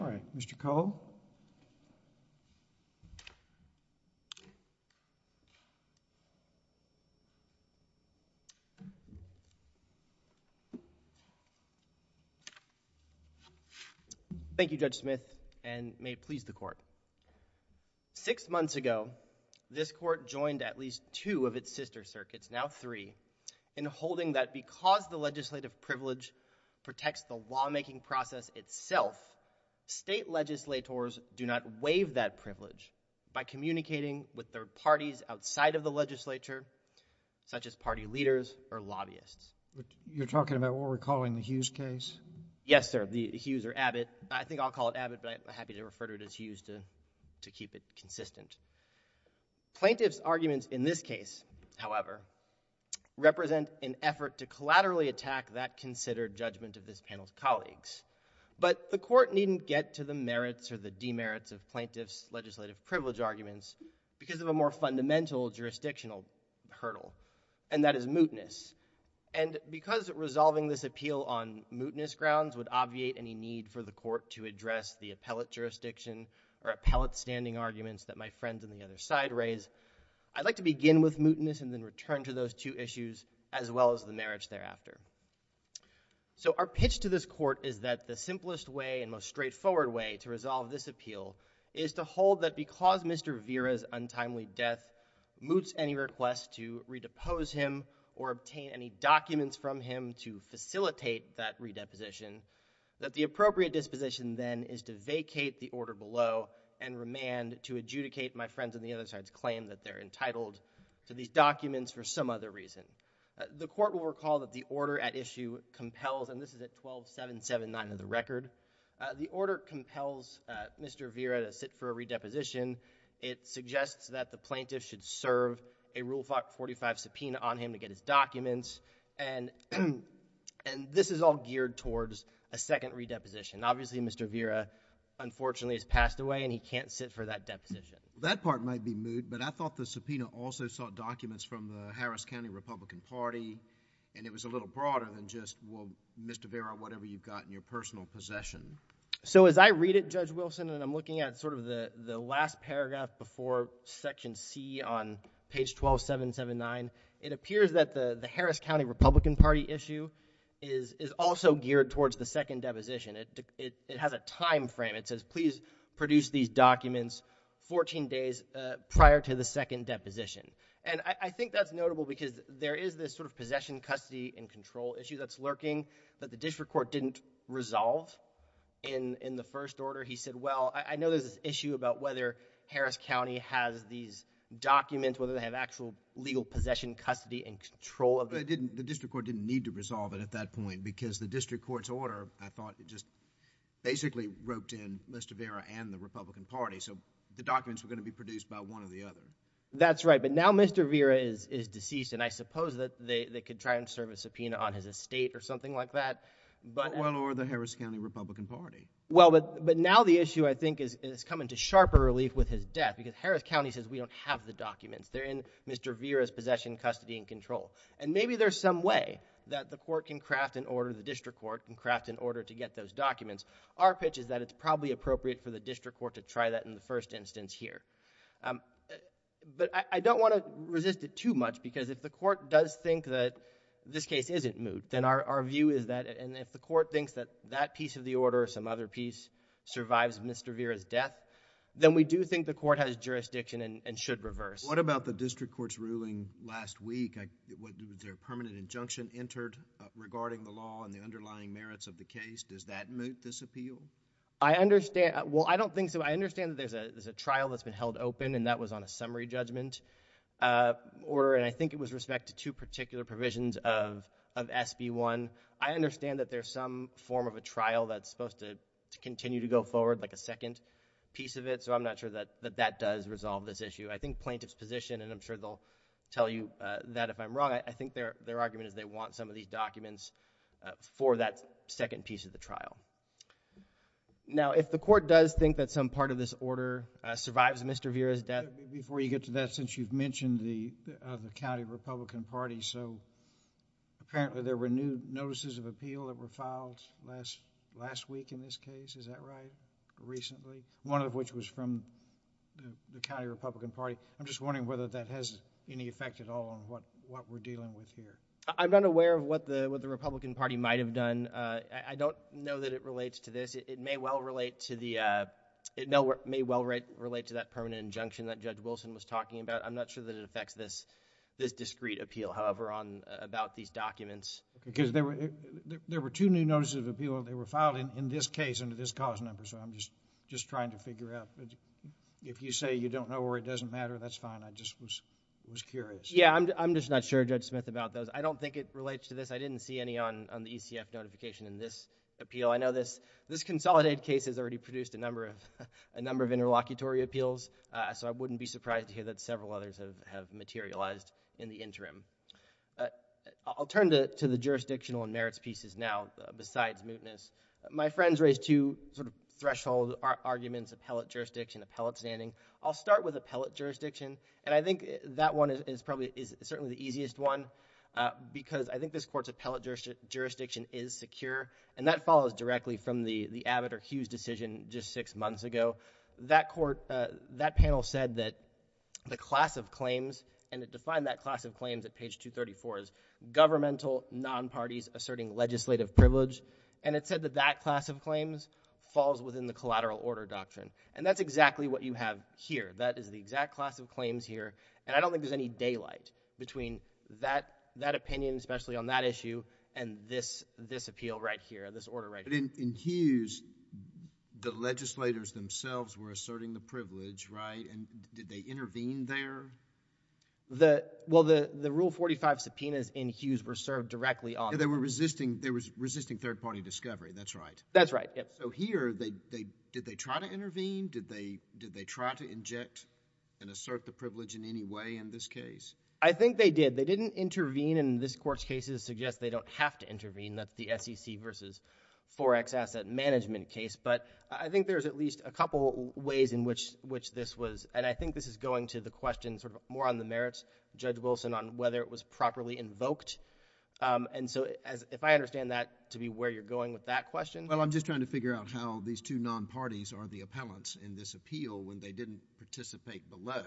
All right, Mr. Cole. Thank you, Judge Smith, and may it please the Court. Six months ago, this Court joined at least two of its sister circuits, now three, in holding that because the legislative privilege protects the lawmaking process itself, state legislators do not waive that privilege by communicating with their parties outside of the legislature, such as party leaders or lobbyists. You're talking about what we're calling the Hughes case? Yes, sir. The Hughes or Abbott. I think I'll call it Abbott, but I'm happy to refer to it as Hughes to keep it consistent. Plaintiffs' arguments in this case, however, represent an effort to collaterally attack that considered judgment of this panel's colleagues. But the Court needn't get to the merits or the demerits of plaintiffs' legislative privilege arguments because of a more fundamental jurisdictional hurdle, and that is mootness. And because resolving this appeal on mootness grounds would obviate any need for the Court to address the appellate jurisdiction or appellate standing arguments that my friends on the other side raise, I'd like to begin with mootness and then return to those two issues as well as the merits thereafter. So our pitch to this Court is that the simplest way and most straightforward way to resolve this appeal is to hold that because Mr. Vera's untimely death moots any request to redepose him or obtain any documents from him to facilitate that redeposition, that the appropriate disposition then is to vacate the order below and remand to adjudicate my friends on the other side's claim that they're entitled to these documents for some other reason. The Court will recall that the order at issue compels, and this is at 12.779 of the record, the order compels Mr. Vera to sit for a redeposition. It suggests that the plaintiff should serve a Rule 45 subpoena on him to get his documents, and this is all geared towards a second redeposition. Obviously, Mr. Vera, unfortunately, has passed away, and he can't sit for that deposition. That part might be moot, but I thought the subpoena also sought documents from the Harris County Republican Party, and it was a little broader than just, well, Mr. Vera, whatever you've got in your personal possession. So as I read it, Judge Wilson, and I'm looking at sort of the last paragraph before Section C on page 12.779, it appears that the Harris County Republican Party issue is also geared towards the second deposition. It has a time frame. It says, please produce these documents 14 days prior to the second deposition. And I think that's notable because there is this sort of possession, custody, and control issue that's lurking that the district court didn't resolve in the first order. He said, well, I know there's this issue about whether Harris County has these documents, whether they have actual legal possession, custody, and control of it. The district court didn't need to resolve it at that point because the district court's order, I thought, just basically roped in Mr. Vera and the Republican Party, so the documents were going to be produced by one or the other. That's right, but now Mr. Vera is deceased, and I suppose that they could try and serve a subpoena on his estate or something like that. Well, or the Harris County Republican Party. Well, but now the issue, I think, is coming to sharper relief with his death because Harris County says, we don't have the documents. They're in Mr. Vera's possession, custody, and control. And maybe there's some way that the court can craft an order, the district court can craft an order to get those documents. Our pitch is that it's probably appropriate for the district court to try that in the first instance here. But I don't want to resist it too much because if the court does think that this case isn't moot, then our view is that, and if the court thinks that that piece of the order or some other piece survives Mr. Vera's death, then we do think the court has jurisdiction and should reverse. What about the district court's ruling last week? Was there a permanent injunction entered regarding the law and the underlying merits of the case? Does that moot this appeal? I understand. Well, I don't think so. I understand that there's a trial that's been held open and that was on a summary judgment order, and I think it was with respect to two particular provisions of SB 1. I understand that there's some form of a trial that's supposed to continue to go forward, like a second piece of it, so I'm not sure that that does resolve this issue. I think plaintiff's position, and I'm sure they'll tell you that if I'm wrong, I think their argument is they want some of these documents for that second piece of the trial. Now, if the court does think that some part of this order survives Mr. Vera's death... Before you get to that, since you've mentioned the county Republican Party, so apparently there were new notices of appeal that were filed last week in this case, is that right? Recently? One of which was from the county Republican Party. I'm just wondering whether that has any effect at all on what we're dealing with here. I'm not aware of what the Republican Party might have done. I don't know that it relates to this. It may well relate to the... it may well relate to that permanent injunction that Judge Wilson was talking about. I'm not sure that it affects this discreet appeal, however, about these documents. Because there were two new notices of appeal that were filed in this case under this cause number, so I'm just trying to figure out. If you say you don't know or it doesn't matter, that's fine. I just was curious. Yeah, I'm just not sure, Judge Smith, about those. I don't think it relates to this. I didn't see any on the ECF notification in this appeal. I know this Consolidated case has already produced a number of interlocutory appeals, so I wouldn't be surprised to hear that several others have materialized in the interim. I'll turn to the jurisdictional and merits pieces now, besides mootness. My friends raised two threshold arguments, appellate jurisdiction, appellate standing. I'll start with appellate jurisdiction, and I think that one is certainly the easiest one because I think this Court's appellate jurisdiction is secure, and that follows directly from the Abbott or Hughes decision just six months ago. That panel said that the class of claims, and it defined that class of claims at page 234 as governmental, non-parties, asserting legislative privilege. And it said that that class of claims falls within the collateral order doctrine. And that's exactly what you have here. That is the exact class of claims here. And I don't think there's any daylight between that opinion, especially on that issue, and this appeal right here, this order right here. In Hughes, the legislators themselves were asserting the privilege, right? And did they intervene there? The, well, the Rule 45 subpoenas in Hughes were served directly on. They were resisting, they were resisting third-party discovery, that's right. That's right, yes. So here, did they try to intervene? Did they, did they try to inject and assert the privilege in any way in this case? I think they did. They didn't intervene, and this Court's cases suggest they don't have to intervene. That's the SEC versus 4X asset management case. But I think there's at least a couple ways in which, which this was, and I think this is going to the question sort of more on the merits, Judge Wilson, on whether it was properly invoked. And so as, if I understand that to be where you're going with that question. Well, I'm just trying to figure out how these two non-parties are the appellants in this appeal when they didn't participate below.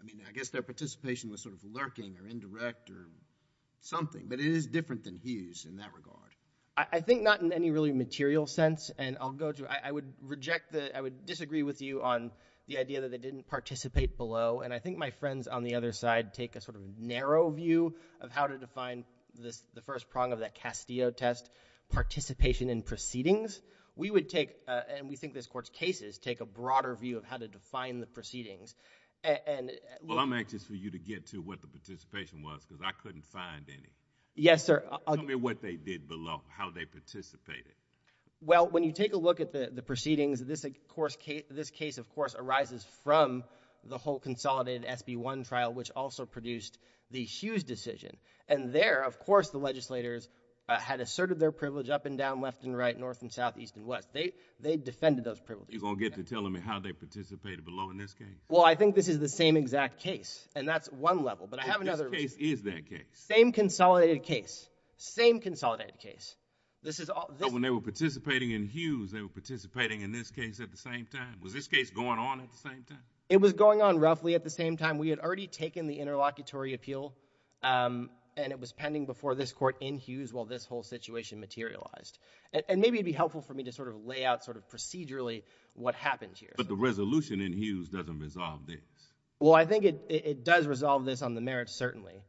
I mean, I guess their participation was sort of lurking or indirect or something, but it is different than Hughes in that regard. I think not in any really material sense, and I'll go to, I would reject the, I would disagree with you on the idea that they didn't participate below. And I think my friends on the other side take a sort of narrow view of how to define this, the first prong of that Castillo test, participation in proceedings. We would take, and we think this court's cases take a broader view of how to define the proceedings. And well, I'm anxious for you to get to what the participation was because I couldn't find any. Yes, sir. Tell me what they did below. How they participated. Well, when you take a look at the proceedings, this of course, this case of course arises from the whole consolidated SB1 trial, which also produced the Hughes decision. And there, of course, the legislators had asserted their privilege up and down, left and right, north and south, east and west. They defended those privileges. You're going to get to telling me how they participated below in this case? Well, I think this is the same exact case and that's one level, but I have another reason. This case is that case. Same consolidated case, same consolidated case. This is all. But when they were participating in Hughes, they were participating in this case at the same time. Was this case going on at the same time? It was going on roughly at the same time. We had already taken the interlocutory appeal and it was pending before this court in Hughes while this whole situation materialized. And maybe it would be helpful for me to sort of lay out sort of procedurally what happened here. But the resolution in Hughes doesn't resolve this. Well, I think it does resolve this on the merits, certainly.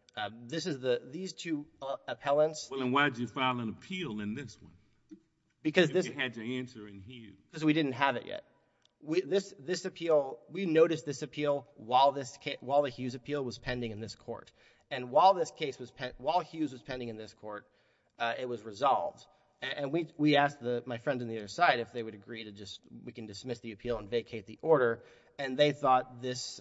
This is the, these two appellants. Well, then why did you file an appeal in this one? Because this. If you had to answer in Hughes. Because we didn't have it yet. This appeal, we noticed this appeal while the Hughes appeal was pending in this court. And while this case was, while Hughes was pending in this court, it was resolved. And we asked my friends on the other side if they would agree to just, we can dismiss the appeal and vacate the order. And they thought this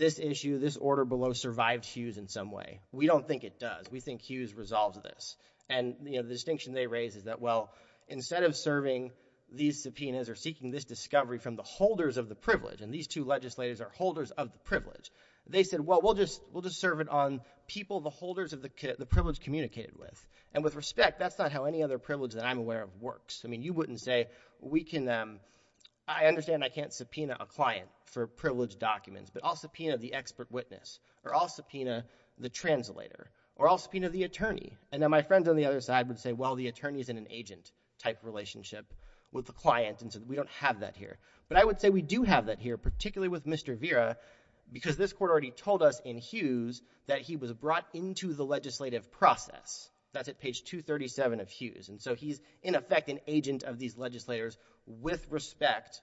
issue, this order below survived Hughes in some way. We don't think it does. We think Hughes resolves this. And the distinction they raise is that, well, instead of serving these subpoenas or seeking this discovery from the holders of the privilege, and these two legislators are holders of the privilege, they said, well, we'll just serve it on people the holders of the privilege communicated with. And with respect, that's not how any other privilege that I'm aware of works. I mean, you wouldn't say, we can, I understand I can't subpoena a client for privileged documents, but I'll subpoena the expert witness, or I'll subpoena the translator, or I'll subpoena the attorney. And then my friends on the other side would say, well, the attorney is in an agent type relationship with the client, and so we don't have that here. But I would say we do have that here, particularly with Mr. Vera, because this court already told us in Hughes that he was brought into the legislative process. That's at page 237 of Hughes. And so he's, in effect, an agent of these legislators with respect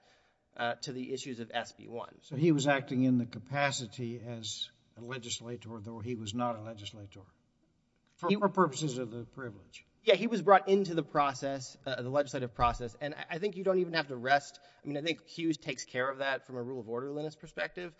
to the issues of SB 1. So he was acting in the capacity as a legislator, though he was not a legislator, for purposes of the privilege. Yeah, he was brought into the process, the legislative process. And I think you don't even have to rest, I mean, I think Hughes takes care of that from a rule of orderliness perspective.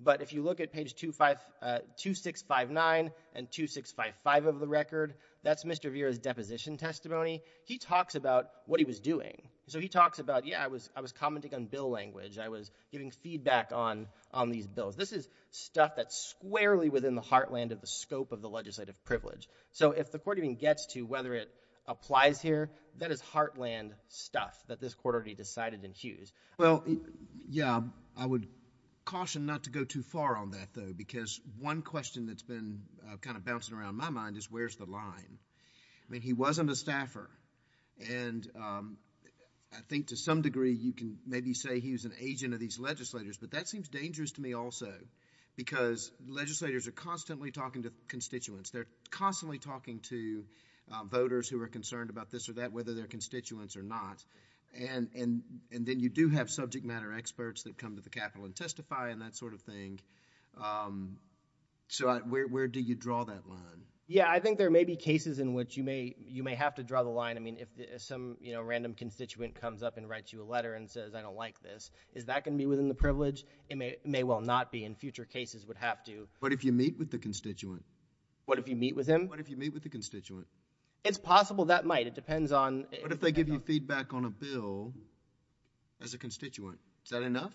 But if you look at page 2659 and 2655 of the record, that's Mr. Vera's deposition testimony. He talks about what he was doing. So he talks about, yeah, I was commenting on bill language. I was giving feedback on these bills. This is stuff that's squarely within the heartland of the scope of the legislative privilege. So if the court even gets to whether it applies here, that is heartland stuff that this court already decided in Hughes. Well, yeah, I would caution not to go too far on that, though, because one question that's been kind of bouncing around my mind is where's the line? I mean, he wasn't a staffer. And I think to some degree you can maybe say he was an agent of these legislators, but that seems dangerous to me also, because legislators are constantly talking to constituents. They're constantly talking to voters who are concerned about this or that, whether they're constituents or not. And then you do have subject matter experts that come to the Capitol and testify and that sort of thing. So where do you draw that line? Yeah, I think there may be cases in which you may have to draw the line. I mean, if some random constituent comes up and writes you a letter and says, I don't like this, is that going to be within the privilege? It may well not be, and future cases would have to. What if you meet with the constituent? What if you meet with him? What if you meet with the constituent? It's possible that might. It depends on— What if they give you feedback on a bill as a constituent? Is that enough?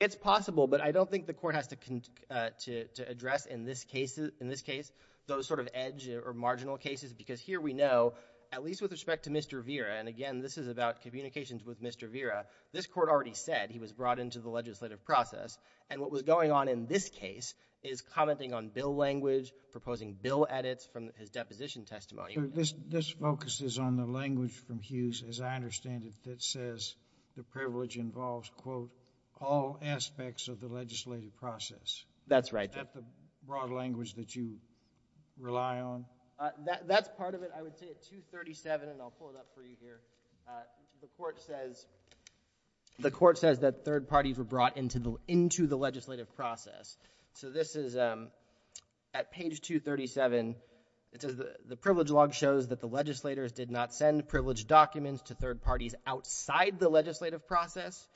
It's possible, but I don't think the court has to address in this case those sort of edge or marginal cases, because here we know, at least with respect to Mr. Vera, and again, this is about communications with Mr. Vera, this court already said he was brought into the legislative process, and what was going on in this case is commenting on bill language, proposing bill edits from his deposition testimony. This focuses on the language from Hughes, as I understand it, that says the privilege involves, quote, all aspects of the legislative process. That's right. Is that the broad language that you rely on? That's part of it. I would say at 237, and I'll pull it up for you here, the court says that third parties were brought into the legislative process, so this is at page 237, it says the privilege log shows that the legislators did not send privileged documents to third parties outside the legislative process,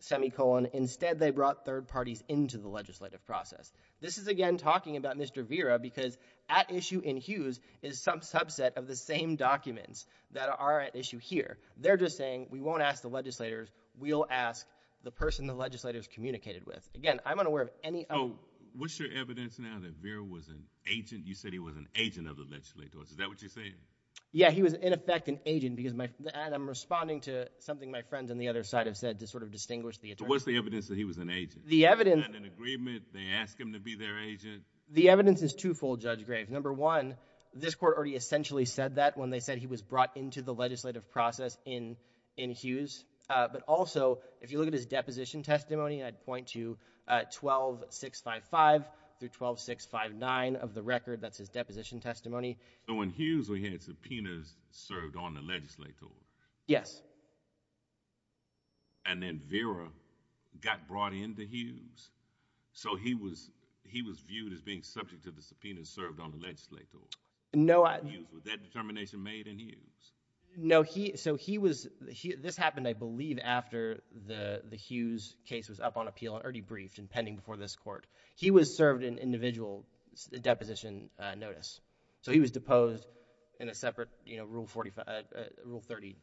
semicolon, instead they brought third parties into the legislative process. This is, again, talking about Mr. Vera, because at issue in Hughes is some subset of the same documents that are at issue here. They're just saying, we won't ask the legislators, we'll ask the person the legislators communicated with. Again, I'm unaware of any... Oh, what's your evidence now that Vera was an agent? You said he was an agent of the legislators, is that what you're saying? Yeah, he was, in effect, an agent, because I'm responding to something my friends on the other side have said to sort of distinguish the attorneys. What's the evidence that he was an agent? The evidence... They had an agreement, they asked him to be their agent. The evidence is twofold, Judge Graves. Number one, this court already essentially said that when they said he was brought into the legislative process in Hughes, but also, if you look at his deposition testimony, I'd point to 12.655 through 12.659 of the record, that's his deposition testimony. When Hughes had subpoenas served on the legislator, and then Vera got brought into Hughes, so he was viewed as being subject to the subpoenas served on the legislator. No, I... Was that determination made in Hughes? No, so he was... This happened, I believe, after the Hughes case was up on appeal or debriefed and pending before this court. He was served an individual deposition notice, so he was deposed in a separate Rule 30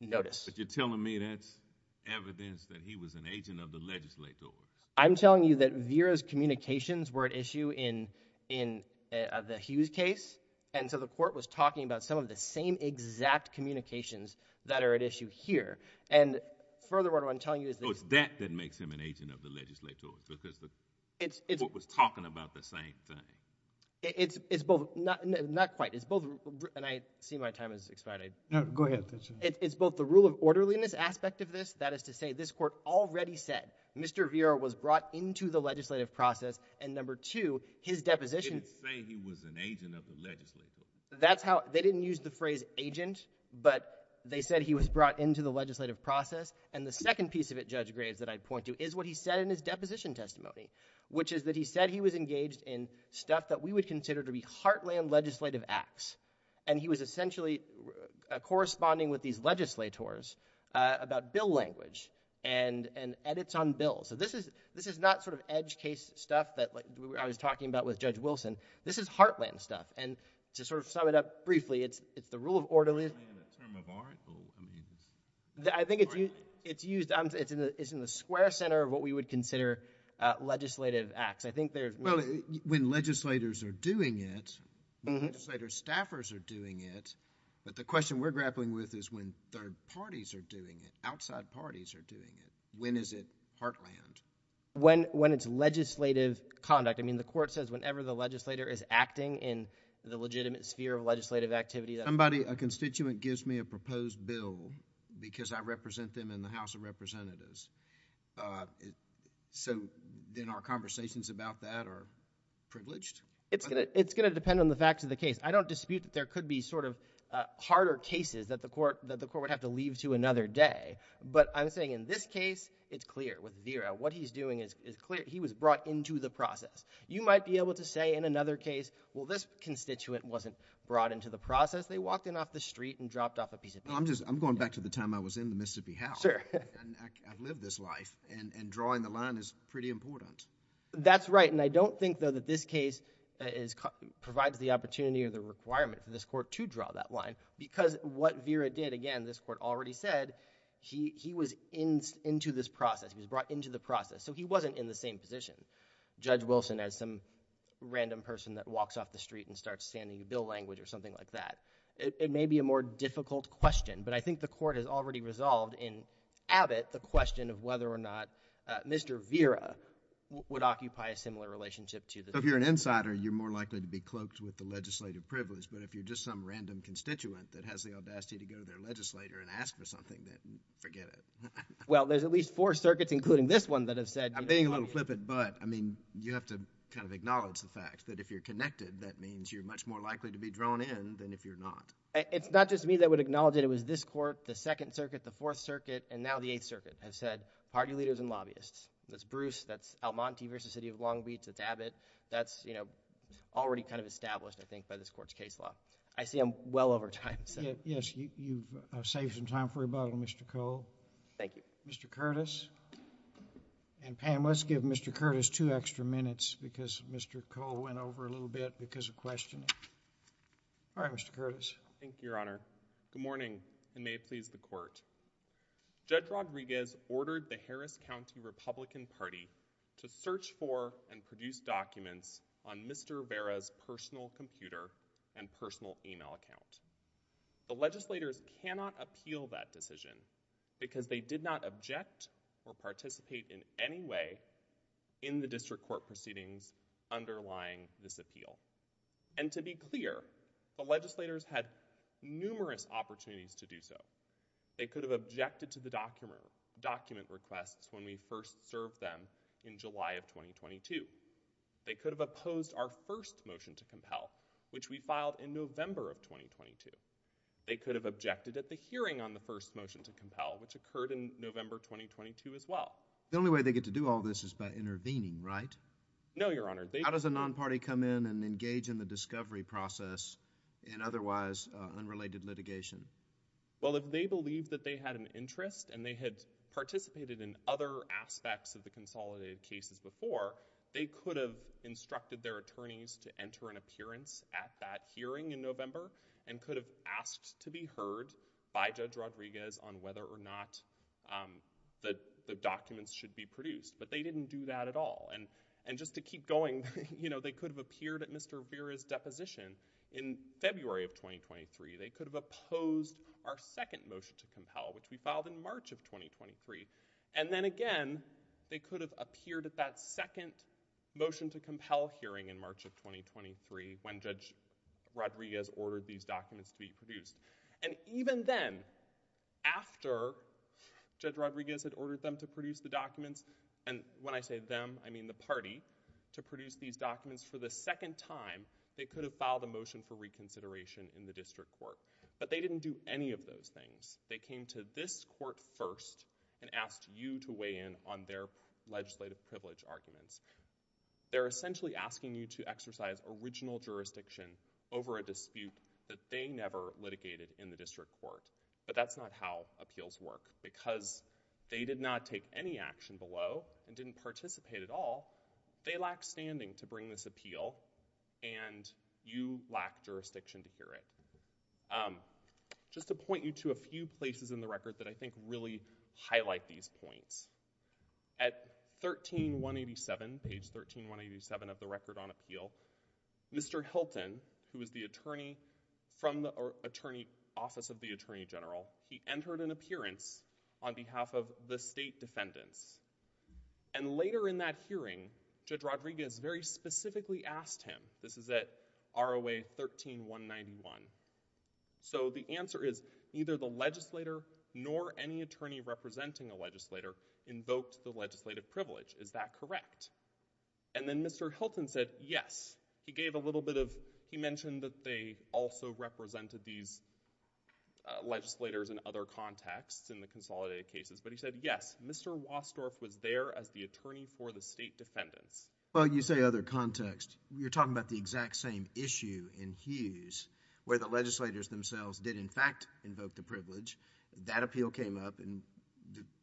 notice. But you're telling me that's evidence that he was an agent of the legislators? I'm telling you that Vera's communications were at issue in the Hughes case, and so the court was talking about some of the same exact communications that are at issue here. And furthermore, what I'm telling you is that... Oh, it's that that makes him an agent of the legislators, because the court was talking about the same thing. It's both... Not quite. It's both... And I see my time has expired. No, go ahead. It's both the rule of orderliness aspect of this, that is to say, this court already said, Mr. Vera was brought into the legislative process, and number two, his deposition... Didn't say he was an agent of the legislators. That's how... They didn't use the phrase agent, but they said he was brought into the legislative process. And the second piece of it, Judge Graves, that I'd point to is what he said in his deposition testimony, which is that he said he was engaged in stuff that we would consider to be heartland legislative acts. And he was essentially corresponding with these legislators about bill language and edits on bills. So this is not sort of edge case stuff that I was talking about with Judge Wilson. This is heartland stuff. And to sort of sum it up briefly, it's the rule of orderliness... Is heartland a term of art, or... I think it's used... It's in the square center of what we would consider legislative acts. I think there's... Well, when legislators are doing it, when legislator staffers are doing it, but the question we're grappling with is when third parties are doing it, outside parties are doing it. When is it heartland? When it's legislative conduct. I mean, the court says whenever the legislator is acting in the legitimate sphere of legislative activity... Somebody, a constituent, gives me a proposed bill because I represent them in the House of Representatives. So then our conversations about that are privileged? It's going to depend on the facts of the case. I don't dispute that there could be sort of harder cases that the court would have to leave to another day. But I'm saying in this case, it's clear with Vera. What he's doing is clear. He was brought into the process. You might be able to say in another case, well, this constituent wasn't brought into the process. They walked in off the street and dropped off a piece of paper. I'm going back to the time I was in the Mississippi House. Sure. And I've lived this life, and drawing the line is pretty important. That's right, and I don't think, though, that this case provides the opportunity or the requirement for this court to draw that line because what Vera did, again, this court already said, he was into this process. He was brought into the process, so he wasn't in the same position, Judge Wilson, as some random person that walks off the street and starts saying the bill language or something like that. It may be a more difficult question, but I think the court has already resolved in Abbott the question of whether or not Mr. Vera would occupy a similar relationship to the judge. So if you're an insider, you're more likely to be cloaked with the legislative privilege, but if you're just some random constituent that has the audacity to go to their legislator and ask for something, then forget it. Well, there's at least four circuits, including this one, that have said— I'm being a little flippant, but, I mean, you have to kind of acknowledge the fact that if you're connected, that means you're much more likely to be drawn in than if you're not. It's not just me that would acknowledge it. It was this court, the Second Circuit, the Fourth Circuit, and now the Eighth Circuit have said, party leaders and lobbyists. That's Bruce, that's Almonte v. City of Long Beach, that's Abbott. That's, you know, already kind of established, I think, by this court's case law. I see I'm well over time, so— Yes, you've saved some time for rebuttal, Mr. Cole. Thank you. Mr. Curtis. And, Pam, let's give Mr. Curtis two extra minutes, because Mr. Cole went over a little bit because of questioning. All right, Mr. Curtis. Thank you, Your Honor. Good morning, and may it please the Court. Judge Rodriguez ordered the Harris County Republican Party to search for and produce documents on Mr. Rivera's personal computer and personal email account. The legislators cannot appeal that decision because they did not object or participate in any way in the district court proceedings underlying this appeal. And to be clear, the legislators had numerous opportunities to do so. They could have objected to the document requests when we first served them in July of 2022. They could have opposed our first motion to compel, which we filed in November of 2022. They could have objected at the hearing on the first motion to compel, which occurred in November 2022 as well. The only way they get to do all this is by intervening, right? No, Your Honor. How does a non-party come in and engage in the discovery process in otherwise unrelated litigation? Well, if they believe that they had an interest and they had participated in other aspects of the consolidated cases before, they could have instructed their attorneys to enter an appearance at that hearing in November and could have asked to be heard by Judge Rodriguez on whether or not the documents should be produced. But they didn't do that at all. And just to keep going, you know, they could have appeared at Mr. Rivera's deposition in February of 2023. They could have opposed our second motion to compel, which we filed in March of 2023. And then again, they could have appeared at that second motion to compel hearing in March of 2023 when Judge Rodriguez ordered these documents to be produced. And even then, after Judge Rodriguez had ordered them to produce the documents, and when I say them, I mean the party, to produce these documents for the second time, they could have filed a motion for reconsideration in the district court. But they didn't do any of those things. They came to this court first and asked you to weigh in on their legislative privilege arguments. They're essentially asking you to exercise original jurisdiction over a dispute that they never litigated in the district court. But that's not how appeals work because they did not take any action below and didn't participate at all. They lack standing to bring this appeal and you lack jurisdiction to hear it. Just to point you to a few places in the record that I think really highlight these points. At 13187, page 13187 of the Record on Appeal, Mr. Hilton, who is the attorney from the Attorney Office of the Attorney General, he entered an appearance on behalf of the state defendants. And later in that hearing, Judge Rodriguez very specifically asked him, this is at ROA 13191. So the answer is, neither the legislator nor any attorney representing a legislator invoked the legislative privilege. Is that correct? And then Mr. Hilton said, yes. He gave a little bit of, he mentioned that they also represented these legislators in other contexts in the consolidated cases, but he said, yes, Mr. Wassdorf was there as the attorney for the state defendants. Well, you say other contexts. You're talking about the exact same issue in Hughes where the legislators themselves did in fact invoke the privilege. That appeal came up and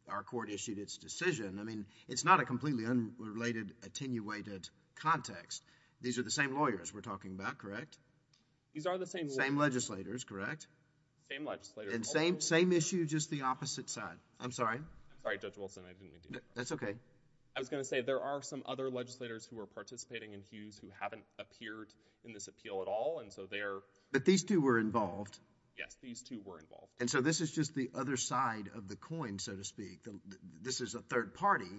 our court issued its decision. I mean, it's not a completely unrelated, attenuated context. These are the same lawyers we're talking about, correct? These are the same lawyers. Same legislators, correct? Same legislators. And same issue, just the opposite side. I'm sorry. I'm sorry, Judge Wilson. I didn't mean to interrupt. That's okay. I was going to say, there are some other legislators who are participating in Hughes who haven't appeared in this appeal at all, and so they're... But these two were involved. Yes, these two were involved. And so this is just the other side of the coin, so to speak. This is a third party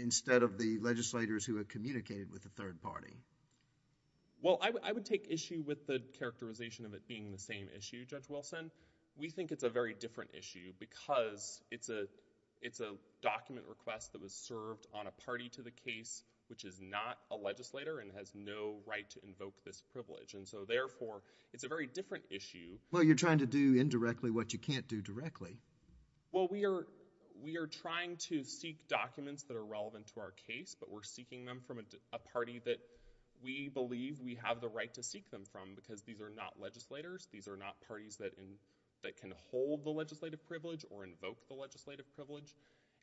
instead of the legislators who had communicated with the third party. Well, I would take issue with the characterization of it being the same issue, Judge Wilson. We think it's a very different issue because it's a document request that was served on a party to the case which is not a legislator and has no right to invoke this privilege. And so therefore, it's a very different issue... Well, you're trying to do indirectly what you can't do directly. Well, we are trying to seek documents that are relevant to our case, but we're seeking them from a party that we believe we have the right to seek them from because these are not legislators. These are not parties that can hold the legislative privilege or invoke the legislative privilege.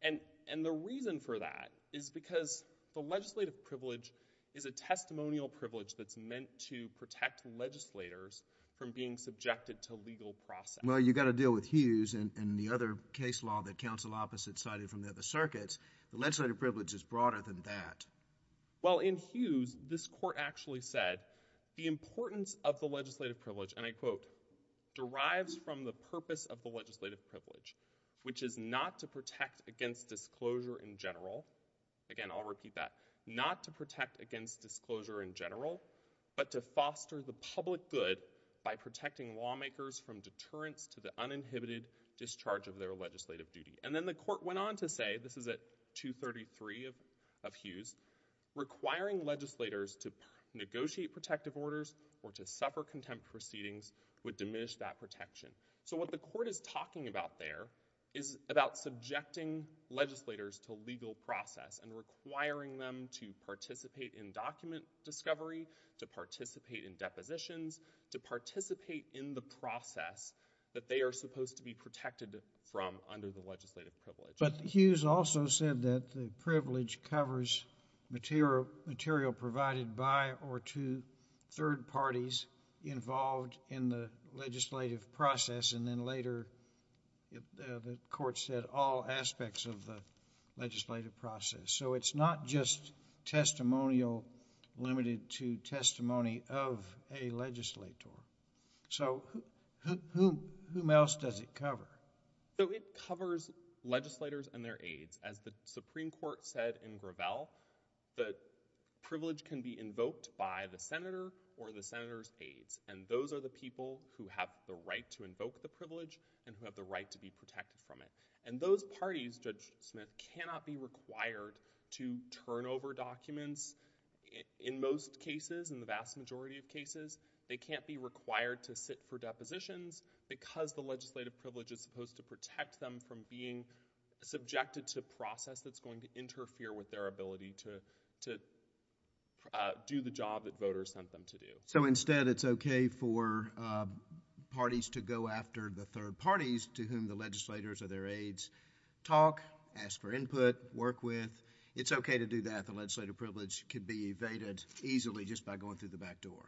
And the reason for that is because the legislative privilege is a testimonial privilege that's meant to protect legislators from being subjected to legal process. Well, you've got to deal with Hughes and the other case law that counsel opposite cited from the other circuits. The legislative privilege is broader than that. Well, in Hughes, this court actually said the importance of the legislative privilege, and I quote, derives from the purpose of the legislative privilege, which is not to protect against disclosure in general. Again, I'll repeat that. Not to protect against disclosure in general, but to foster the public good by protecting lawmakers from deterrence to the uninhibited discharge of their legislative duty. And then the court went on to say, this is at 233 of Hughes, requiring legislators to participate in document discovery, to participate in depositions, to participate in the process that they are supposed to be protected from under the legislative privilege. But Hughes also said that the privilege covers material provided by or to third parties involved in the legislative process, and then later the court said all aspects of the legislative process. So it's not just testimonial limited to testimony of a legislator. So whom else does it cover? It covers legislators and their aides. As the Supreme Court said in Gravel, the privilege can be invoked by the senator or the senator's people who have the right to invoke the privilege and who have the right to be protected from it. And those parties, Judge Smith, cannot be required to turn over documents. In most cases, in the vast majority of cases, they can't be required to sit for depositions because the legislative privilege is supposed to protect them from being subjected to process that's going to interfere with their ability to do the job that voters sent them to do. So instead, it's okay for parties to go after the third parties to whom the legislators or their aides talk, ask for input, work with. It's okay to do that. The legislative privilege could be evaded easily just by going through the back door.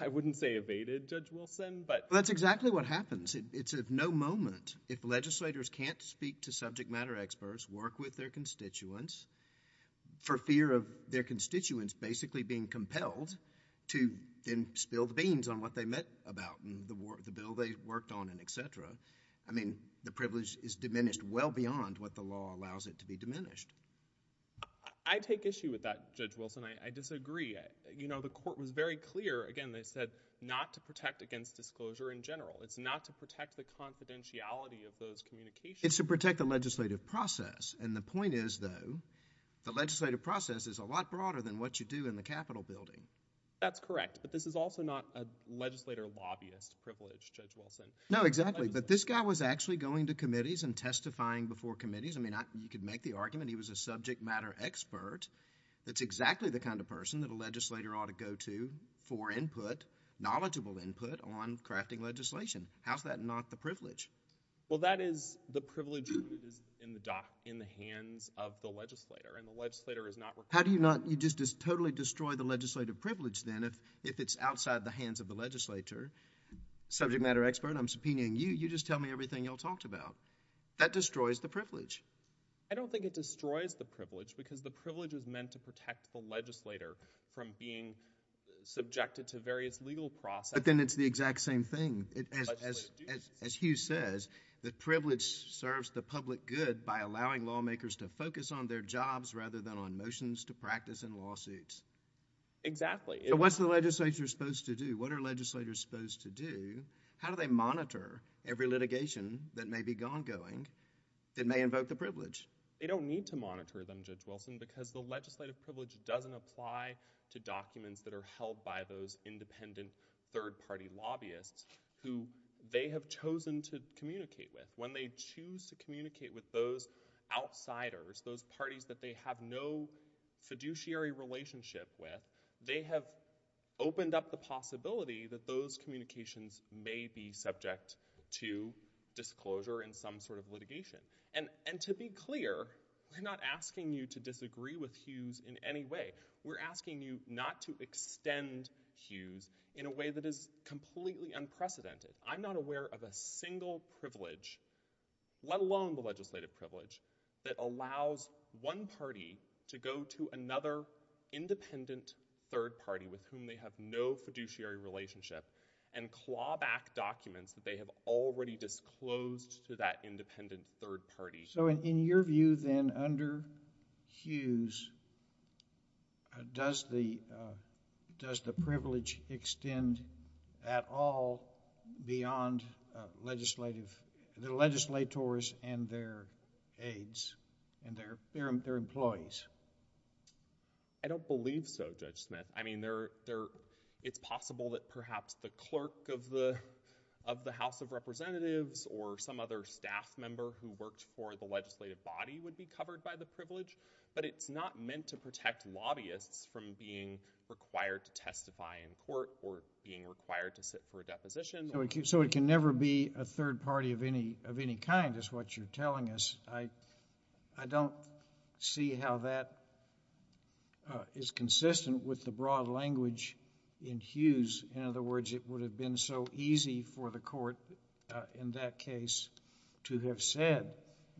I wouldn't say evaded, Judge Wilson, but... That's exactly what happens. It's of no moment if legislators can't speak to subject matter experts, work with their constituents, basically being compelled to then spill the beans on what they met about and the bill they worked on and et cetera. I mean, the privilege is diminished well beyond what the law allows it to be diminished. I take issue with that, Judge Wilson. I disagree. You know, the court was very clear, again, they said not to protect against disclosure in general. It's not to protect the confidentiality of those communications. It's to protect the legislative process. And the point is, though, the legislative process is a lot broader than what you do in the Capitol building. That's correct, but this is also not a legislator lobbyist privilege, Judge Wilson. No, exactly, but this guy was actually going to committees and testifying before committees. I mean, you could make the argument he was a subject matter expert. That's exactly the kind of person that a legislator ought to go to for input, knowledgeable input on crafting legislation. How's that not the privilege? Well, that is the privilege in the dock, in the hands of the legislator, and the legislator is not required. How do you not, you just totally destroy the legislative privilege then if it's outside the hands of the legislator. Subject matter expert, I'm subpoenaing you. You just tell me everything y'all talked about. That destroys the privilege. I don't think it destroys the privilege because the privilege is meant to protect the legislator from being subjected to various legal processes. But then it's the exact same thing. As Hugh says, the privilege serves the public good by allowing lawmakers to focus on their jobs rather than on motions to practice in lawsuits. Exactly. So what's the legislature supposed to do? What are legislators supposed to do? How do they monitor every litigation that may be ongoing that may invoke the privilege? They don't need to monitor them, Judge Wilson, because the legislative privilege doesn't apply to documents that are held by those independent third party lobbyists who they have chosen to communicate with. When they choose to communicate with those outsiders, those parties that they have no fiduciary relationship with, they have opened up the possibility that those communications may be subject to disclosure in some sort of litigation. And to be clear, we're not asking you to disagree with Hugh's in any way. We're asking you not to extend Hugh's in a way that is completely unprecedented. I'm not aware of a single privilege, let alone the legislative privilege, that allows one party to go to another independent third party with whom they have no fiduciary relationship and claw back documents that they have already disclosed to that independent third party. So in your view then, under Hugh's, does the privilege extend at all beyond the legislators and their aides and their employees? I don't believe so, Judge Smith. I mean, it's possible that perhaps the clerk of the House of Representatives or some other staff member who worked for the legislative body would be covered by the privilege, but it's not meant to protect lobbyists from being required to testify in court or being required to sit for a deposition. So it can never be a third party of any kind, is what you're telling us. I don't see how that is consistent with the broad language in Hugh's. In other words, it would have been so easy for the court in that case to have said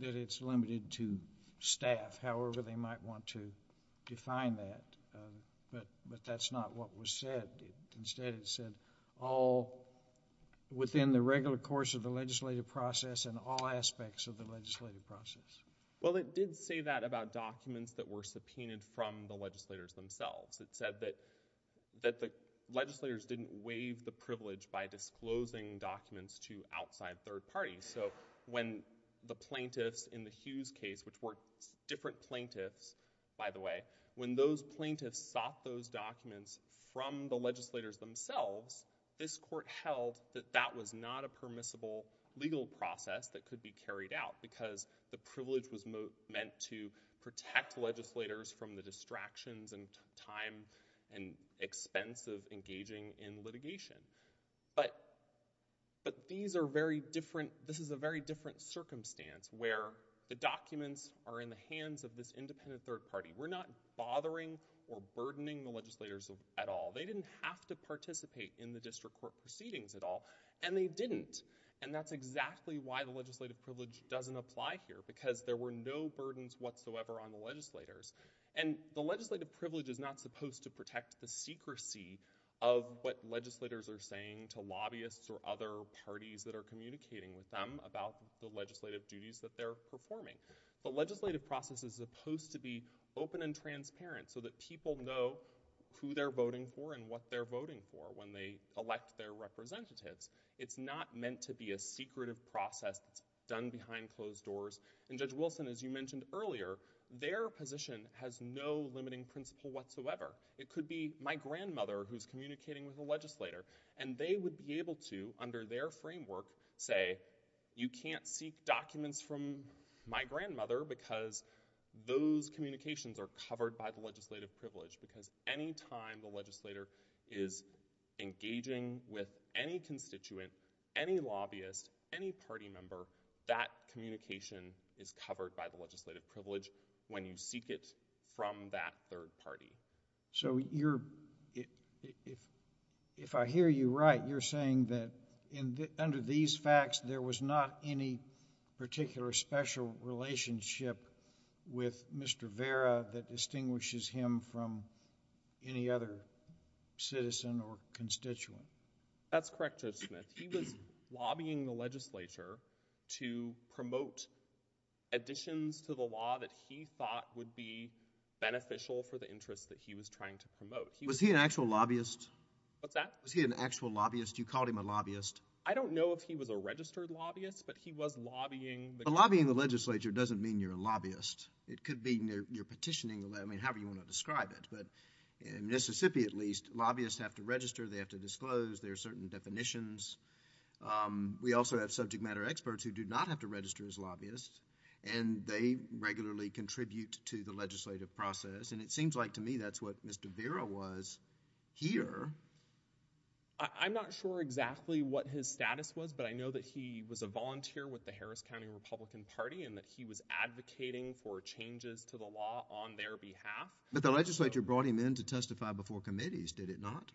that it's limited to staff, however they might want to define that, but that's not what was said. Instead, it said all within the regular course of the legislative process and all aspects of the legislative process. Well, it did say that about documents that were subpoenaed from the legislators themselves. It said that the legislators didn't waive the privilege by disclosing documents to outside third parties. So when the plaintiffs in the Hugh's case, which were different plaintiffs, by the way, when those plaintiffs sought those documents from the legislators themselves, this court held that that was not a permissible legal process that could be carried out because the privilege was meant to protect legislators from the distractions and time and expense of engaging in litigation. But these are very different, this is a very different circumstance where the documents are in the hands of this independent third party. We're not bothering or burdening the legislators at all. They didn't have to participate in the district court proceedings at all, and they didn't. And that's exactly why the legislative privilege doesn't apply here, because there were no burdens whatsoever on the legislators. And the legislative privilege is not supposed to protect the secrecy of what legislators are saying to lobbyists or other parties that are communicating with them about the legislative duties that they're performing. The legislative process is supposed to be open and transparent so that people know who they're voting for and what they're voting for when they elect their representatives. It's not meant to be a secretive process that's done behind closed doors. And Judge Wilson, as you mentioned earlier, their position has no limiting principle whatsoever. It could be my grandmother who's communicating with a legislator, and they would be able to, under their framework, say, you can't seek documents from my grandmother because those communications are covered by the legislative privilege, because any time the legislator is engaging with any constituent, any lobbyist, any party member, that communication is covered by the legislative privilege when you seek it from that third party. So you're, if I hear you right, you're saying that under these facts, there was not any particular special relationship with Mr. Vera that distinguishes him from any other citizen or constituent? That's correct, Judge Smith. He was lobbying the legislature to promote additions to the law that he thought would be beneficial for the interests that he was trying to promote. Was he an actual lobbyist? What's that? Was he an actual lobbyist? You called him a lobbyist. I don't know if he was a registered lobbyist, but he was lobbying the... Lobbying the legislature doesn't mean you're a lobbyist. It could be you're petitioning, I mean, however you want to describe it, but in Mississippi, at least, lobbyists have to register, they have to disclose their certain definitions. We also have subject matter experts who do not have to register as lobbyists, and they regularly contribute to the legislative process, and it seems like, to me, that's what Mr. Vera was here. I'm not sure exactly what his status was, but I know that he was a volunteer with the Harris County Republican Party, and that he was advocating for changes to the law on their behalf. But the legislature brought him in to testify before committees, did it not?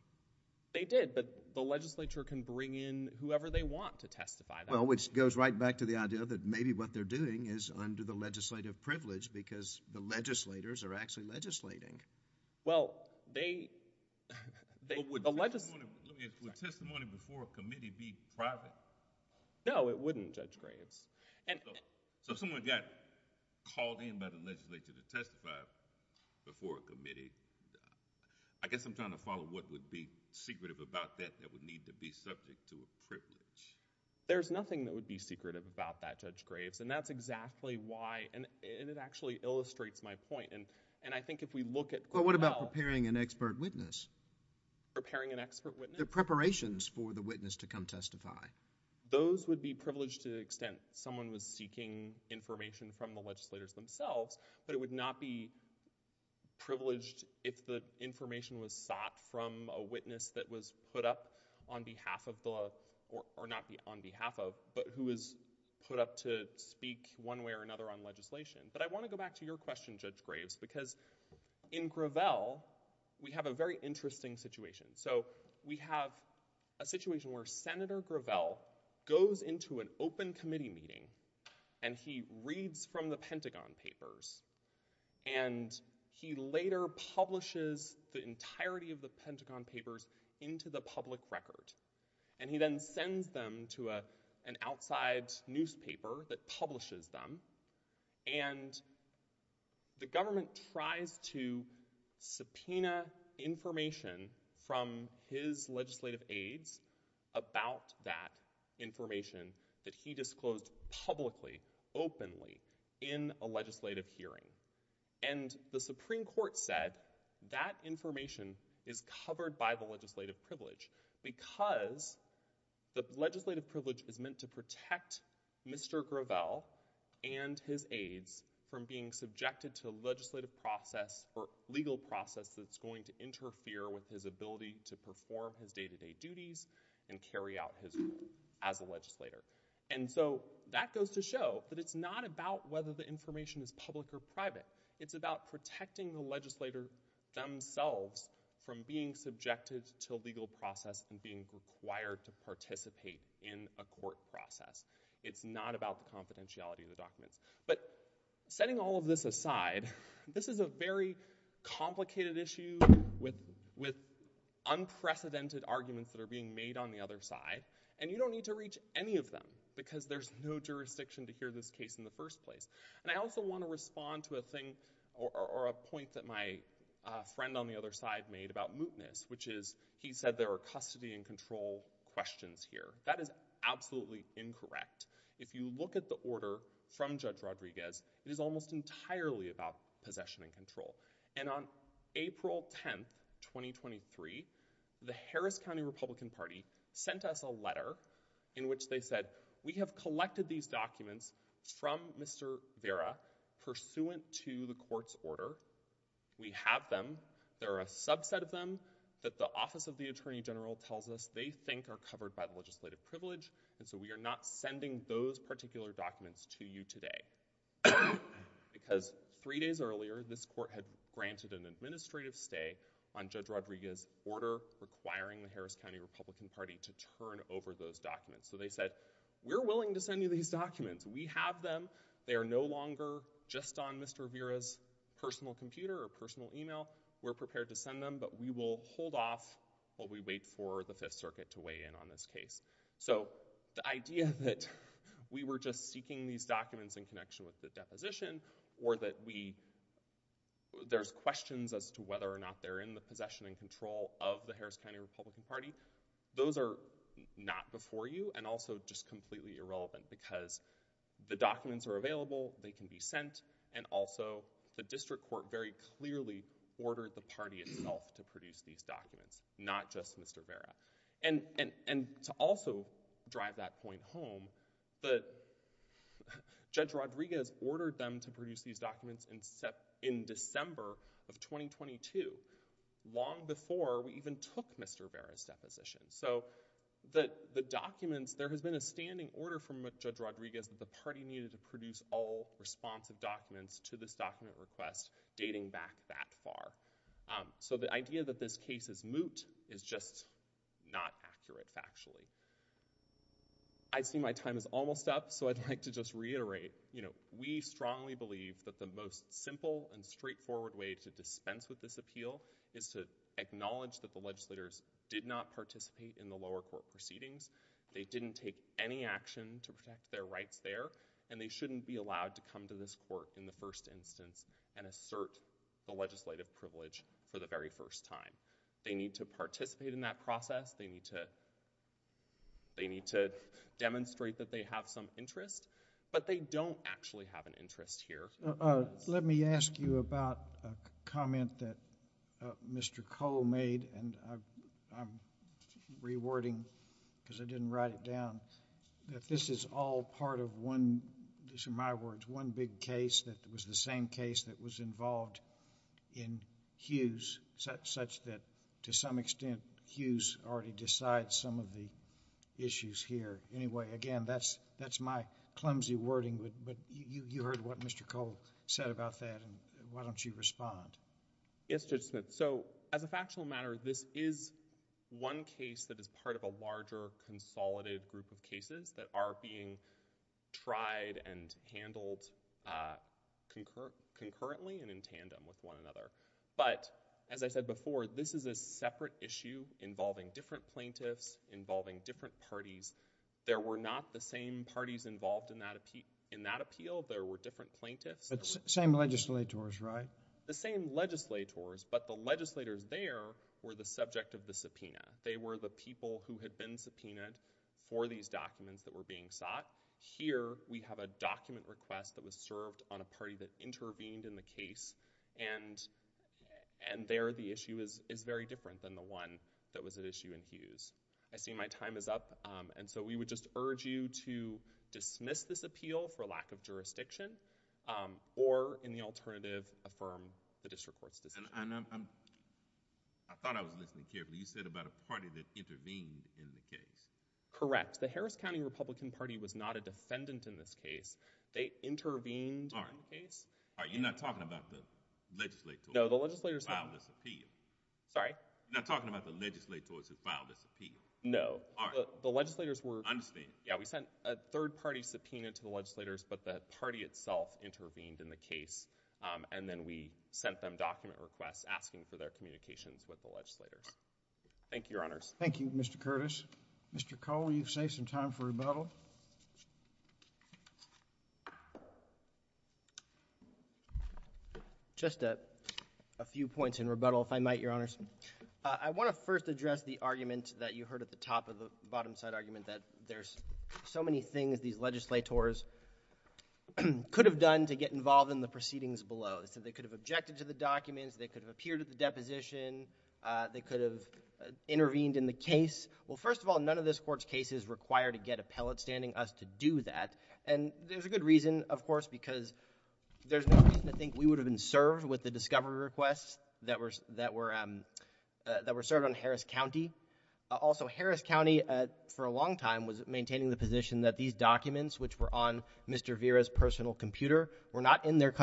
They did, but the legislature can bring in whoever they want to testify. Well, which goes right back to the idea that maybe what they're doing is under the legislative privilege because the legislators are actually legislating. Well, they... But would testimony before a committee be private? No, it wouldn't, Judge Graves. So if someone got called in by the legislature to testify before a committee, I guess I'm trying to follow what would be secretive about that that would need to be subject to a privilege. There's nothing that would be secretive about that, Judge Graves, and that's exactly why, and it actually illustrates my point. And I think if we look at... But what about preparing an expert witness? Preparing an expert witness? The preparations for the witness to come testify. Those would be privileged to the extent someone was seeking information from the legislators themselves, but it would not be privileged if the information was sought from a witness that was put up on behalf of the, or not on behalf of, but who was put up to speak one way or another on legislation. But I want to go back to your question, Judge Graves, because in Gravel, we have a very interesting situation. So we have a situation where Senator Gravel goes into an open committee meeting, and he reads from the Pentagon Papers, and he later publishes the entirety of the Pentagon Papers into the public record. And he then sends them to an outside newspaper that publishes them, and the government tries to subpoena information from his legislative aides about that information that he disclosed publicly, openly, in a legislative hearing. And the Supreme Court said that information is covered by the legislative privilege because the legislative privilege is meant to protect Mr. Gravel and his aides from being subjected to a legislative process, or legal process, that's going to interfere with his ability to perform his day-to-day duties and carry out his role as a legislator. And so that goes to show that it's not about whether the information is public or private. It's about protecting the legislator themselves from being subjected to a legal process and being required to participate in a court process. It's not about the confidentiality of the documents. But setting all of this aside, this is a very complicated issue with unprecedented arguments that are being made on the other side. And you don't need to reach any of them because there's no jurisdiction to hear this case in the first place. And I also want to respond to a thing, or a point that my friend on the other side made about mootness, which is he said there are custody and control questions here. That is absolutely incorrect. If you look at the order from Judge Rodriguez, it is almost entirely about possession and control. And on April 10th, 2023, the Harris County Republican Party sent us a letter in which they said, we have collected these documents from Mr. Vera pursuant to the court's order. We have them. There are a subset of them that the Office of the Attorney General tells us they think are covered by the legislative privilege, and so we are not sending those particular documents to you today. Because three days earlier, this court had granted an administrative stay on Judge Rodriguez's order requiring the Harris County Republican Party to turn over those documents. So they said, we're willing to send you these documents. We have them. They are no longer just on Mr. Vera's personal computer or personal email. We're prepared to send them, but we will hold off while we wait for the Fifth Circuit to weigh in on this case. So the idea that we were just seeking these documents in connection with the deposition or that there's questions as to whether or not they're in the possession and control of the Harris County Republican Party, those are not before you and also just completely irrelevant because the documents are available, they can be sent, and also the district court very clearly ordered the party itself to produce these documents, not just Mr. Vera. And to also drive that point home, Judge Rodriguez ordered them to produce these documents in December of 2022, long before we even took Mr. Vera's deposition. So the documents, there has been a standing order from Judge Rodriguez that the party needed to produce all responsive documents to this document request dating back that far. So the idea that this case is moot is just not accurate factually. I see my time is almost up, so I'd like to just reiterate, you know, we strongly believe that the most simple and straightforward way to dispense with this appeal is to acknowledge that the legislators did not participate in the lower court proceedings, they didn't take any action to protect their rights there, and they shouldn't be allowed to come to this court in the first instance and assert the legislative privilege for the very first time. They need to participate in that process, they need to demonstrate that they have some interest, but they don't actually have an interest here. Let me ask you about a comment that Mr. Cole made, and I'm rewording because I didn't write it down, that this is all part of one, these are my words, one big case that was the same case that was involved in Hughes, such that to some extent, Hughes already decides some of the issues here. Anyway, again, that's my clumsy wording, but you heard what Mr. Cole said about that, and why don't you respond? Yes, Judge Smith. So, as a factual matter, this is one case that is part of a larger, consolidated group of cases that are being tried and handled concurrently and in tandem with one another. But as I said before, this is a separate issue involving different plaintiffs, involving different parties. There were not the same parties involved in that appeal, there were different plaintiffs. Same legislators, right? The same legislators, but the legislators there were the subject of the subpoena. They were the people who had been subpoenaed for these documents that were being sought. Here we have a document request that was served on a party that intervened in the case, and there the issue is very different than the one that was at issue in Hughes. I see my time is up, and so we would just urge you to dismiss this appeal for lack of a better term, the district court's decision. I thought I was listening carefully. You said about a party that intervened in the case. Correct. The Harris County Republican Party was not a defendant in this case. They intervened in the case. All right. You're not talking about the legislators who filed this appeal? Sorry? You're not talking about the legislators who filed this appeal? No. All right. The legislators were... I understand. Yeah. We sent a third party subpoena to the legislators, but the party itself intervened in the case, and then we sent them document requests asking for their communications with the legislators. Thank you, Your Honors. Thank you, Mr. Curtis. Mr. Cole, you've saved some time for rebuttal. Just a few points in rebuttal, if I might, Your Honors. I want to first address the argument that you heard at the top of the bottom side argument that there's so many things these legislators could have done to get involved in the proceedings below. They said they could have objected to the documents. They could have appeared at the deposition. They could have intervened in the case. Well, first of all, none of this Court's cases require to get appellate standing us to do that, and there's a good reason, of course, because there's no reason to think we would have been served with the discovery requests that were served on Harris County. Also, Harris County, for a long time, was maintaining the position that these documents, which were on Mr. Vera's personal computer, were not in their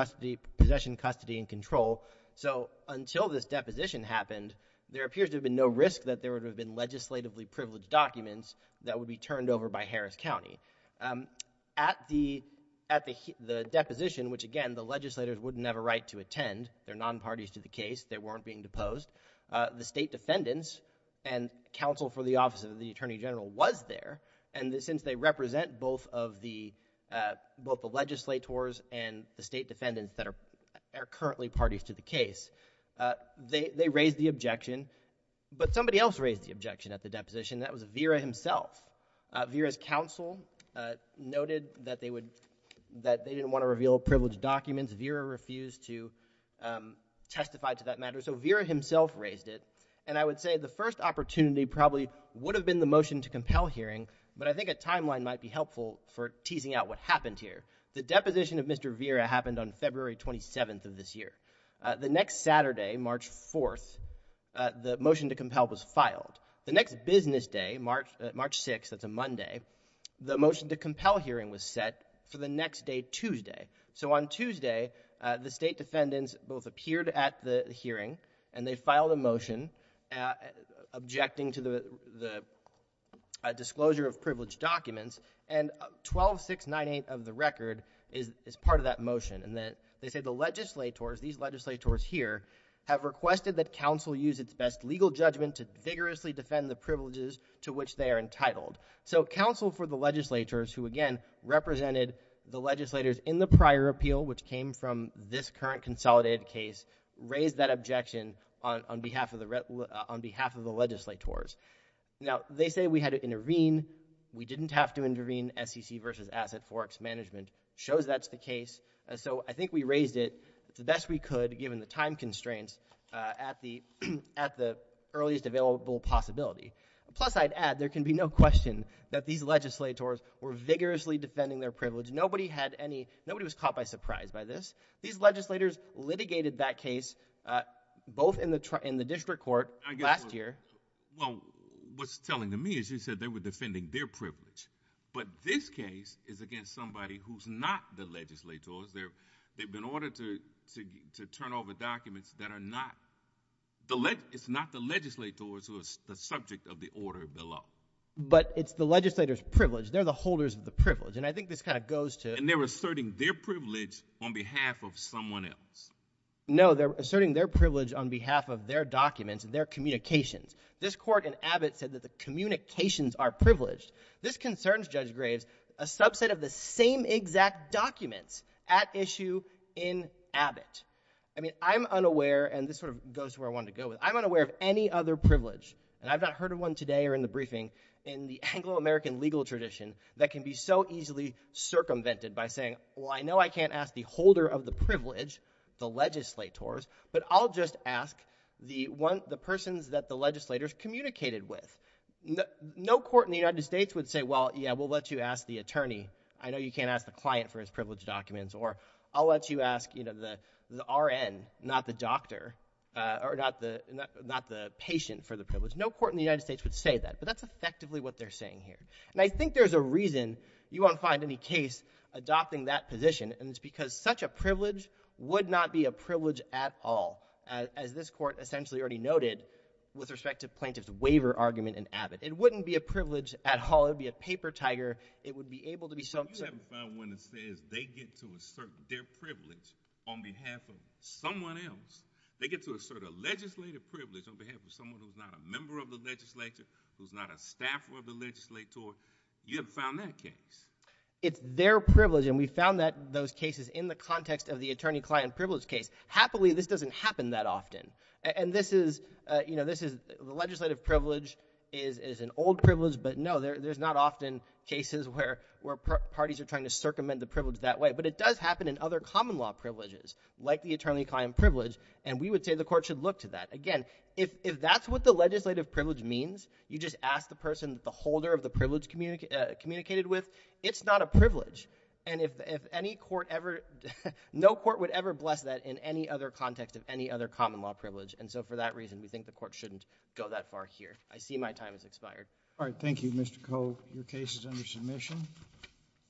possession, custody, and control, so until this deposition happened, there appears to have been no risk that there would have been legislatively privileged documents that would be turned over by Harris County. At the deposition, which, again, the legislators wouldn't have a right to attend, they're nonparties to the case. They weren't being deposed. The state defendants and counsel for the Office of the Attorney General was there, and since they represent both the legislators and the state defendants that are currently parties to the case, they raised the objection, but somebody else raised the objection at the deposition, and that was Vera himself. Vera's counsel noted that they didn't want to reveal privileged documents. Vera refused to testify to that matter, so Vera himself raised it, and I would say the first opportunity probably would have been the motion to compel hearing, but I think a timeline might be helpful for teasing out what happened here. The deposition of Mr. Vera happened on February 27th of this year. The next Saturday, March 4th, the motion to compel was filed. The next business day, March 6th, that's a Monday, the motion to compel hearing was set for the next day, Tuesday. So on Tuesday, the state defendants both appeared at the hearing, and they filed a motion objecting to the disclosure of privileged documents, and 12-698 of the record is part of that motion, and they say the legislators, these legislators here, have requested that counsel use its best legal judgment to vigorously defend the privileges to which they are entitled. So counsel for the legislators who, again, represented the legislators in the prior appeal, which came from this current consolidated case, raised that objection on behalf of the legislators. Now, they say we had to intervene. We didn't have to intervene, SEC versus Asset Forex Management shows that's the case, so I think we raised it the best we could, given the time constraints, at the earliest available possibility. Plus, I'd add, there can be no question that these legislators were vigorously defending their privilege. Nobody had any, nobody was caught by surprise by this. These legislators litigated that case, both in the district court, last year. Well, what's telling to me is you said they were defending their privilege, but this case is against somebody who's not the legislators, they've been ordered to turn over documents that are not, it's not the legislators who are the subject of the order below. But it's the legislators' privilege, they're the holders of the privilege, and I think this kind of goes to- And they're asserting their privilege on behalf of someone else. No, they're asserting their privilege on behalf of their documents and their communications. This court in Abbott said that the communications are privileged. This concerns, Judge Graves, a subset of the same exact documents at issue in Abbott. I mean, I'm unaware, and this sort of goes to where I wanted to go with it, I'm unaware of any other privilege, and I've not heard of one today or in the briefing, in the Anglo-American legal tradition, that can be so easily circumvented by saying, well, I know I can't ask the holder of the privilege, the legislators, but I'll just ask the one, the persons that the legislators communicated with. No court in the United States would say, well, yeah, we'll let you ask the attorney, I know you can't ask the client for his privilege documents, or I'll let you ask the RN, not the doctor, or not the patient for the privilege. No court in the United States would say that, but that's effectively what they're saying here. And I think there's a reason you won't find any case adopting that position, and it's because such a privilege would not be a privilege at all, as this court essentially already noted with respect to plaintiff's waiver argument in Abbott. It wouldn't be a privilege at all, it would be a paper tiger. It would be able to be something. But you haven't found one that says they get to assert their privilege on behalf of someone else. They get to assert a legislative privilege on behalf of someone who's not a member of the legislature, who's not a staffer of the legislature. You haven't found that case. It's their privilege, and we found that, those cases in the context of the attorney-client privilege case. Happily, this doesn't happen that often. And this is, you know, this is, the legislative privilege is an old privilege, but no, there's not often cases where parties are trying to circumvent the privilege that way. But it does happen in other common law privileges, like the attorney-client privilege, and we would say the court should look to that. Again, if that's what the legislative privilege means, you just ask the person that the holder of the privilege communicated with, it's not a privilege. And if any court ever, no court would ever bless that in any other context of any other common law privilege. And so for that reason, we think the court shouldn't go that far here. I see my time has expired. All right. Thank you, Mr. Koh. Your case is under submission.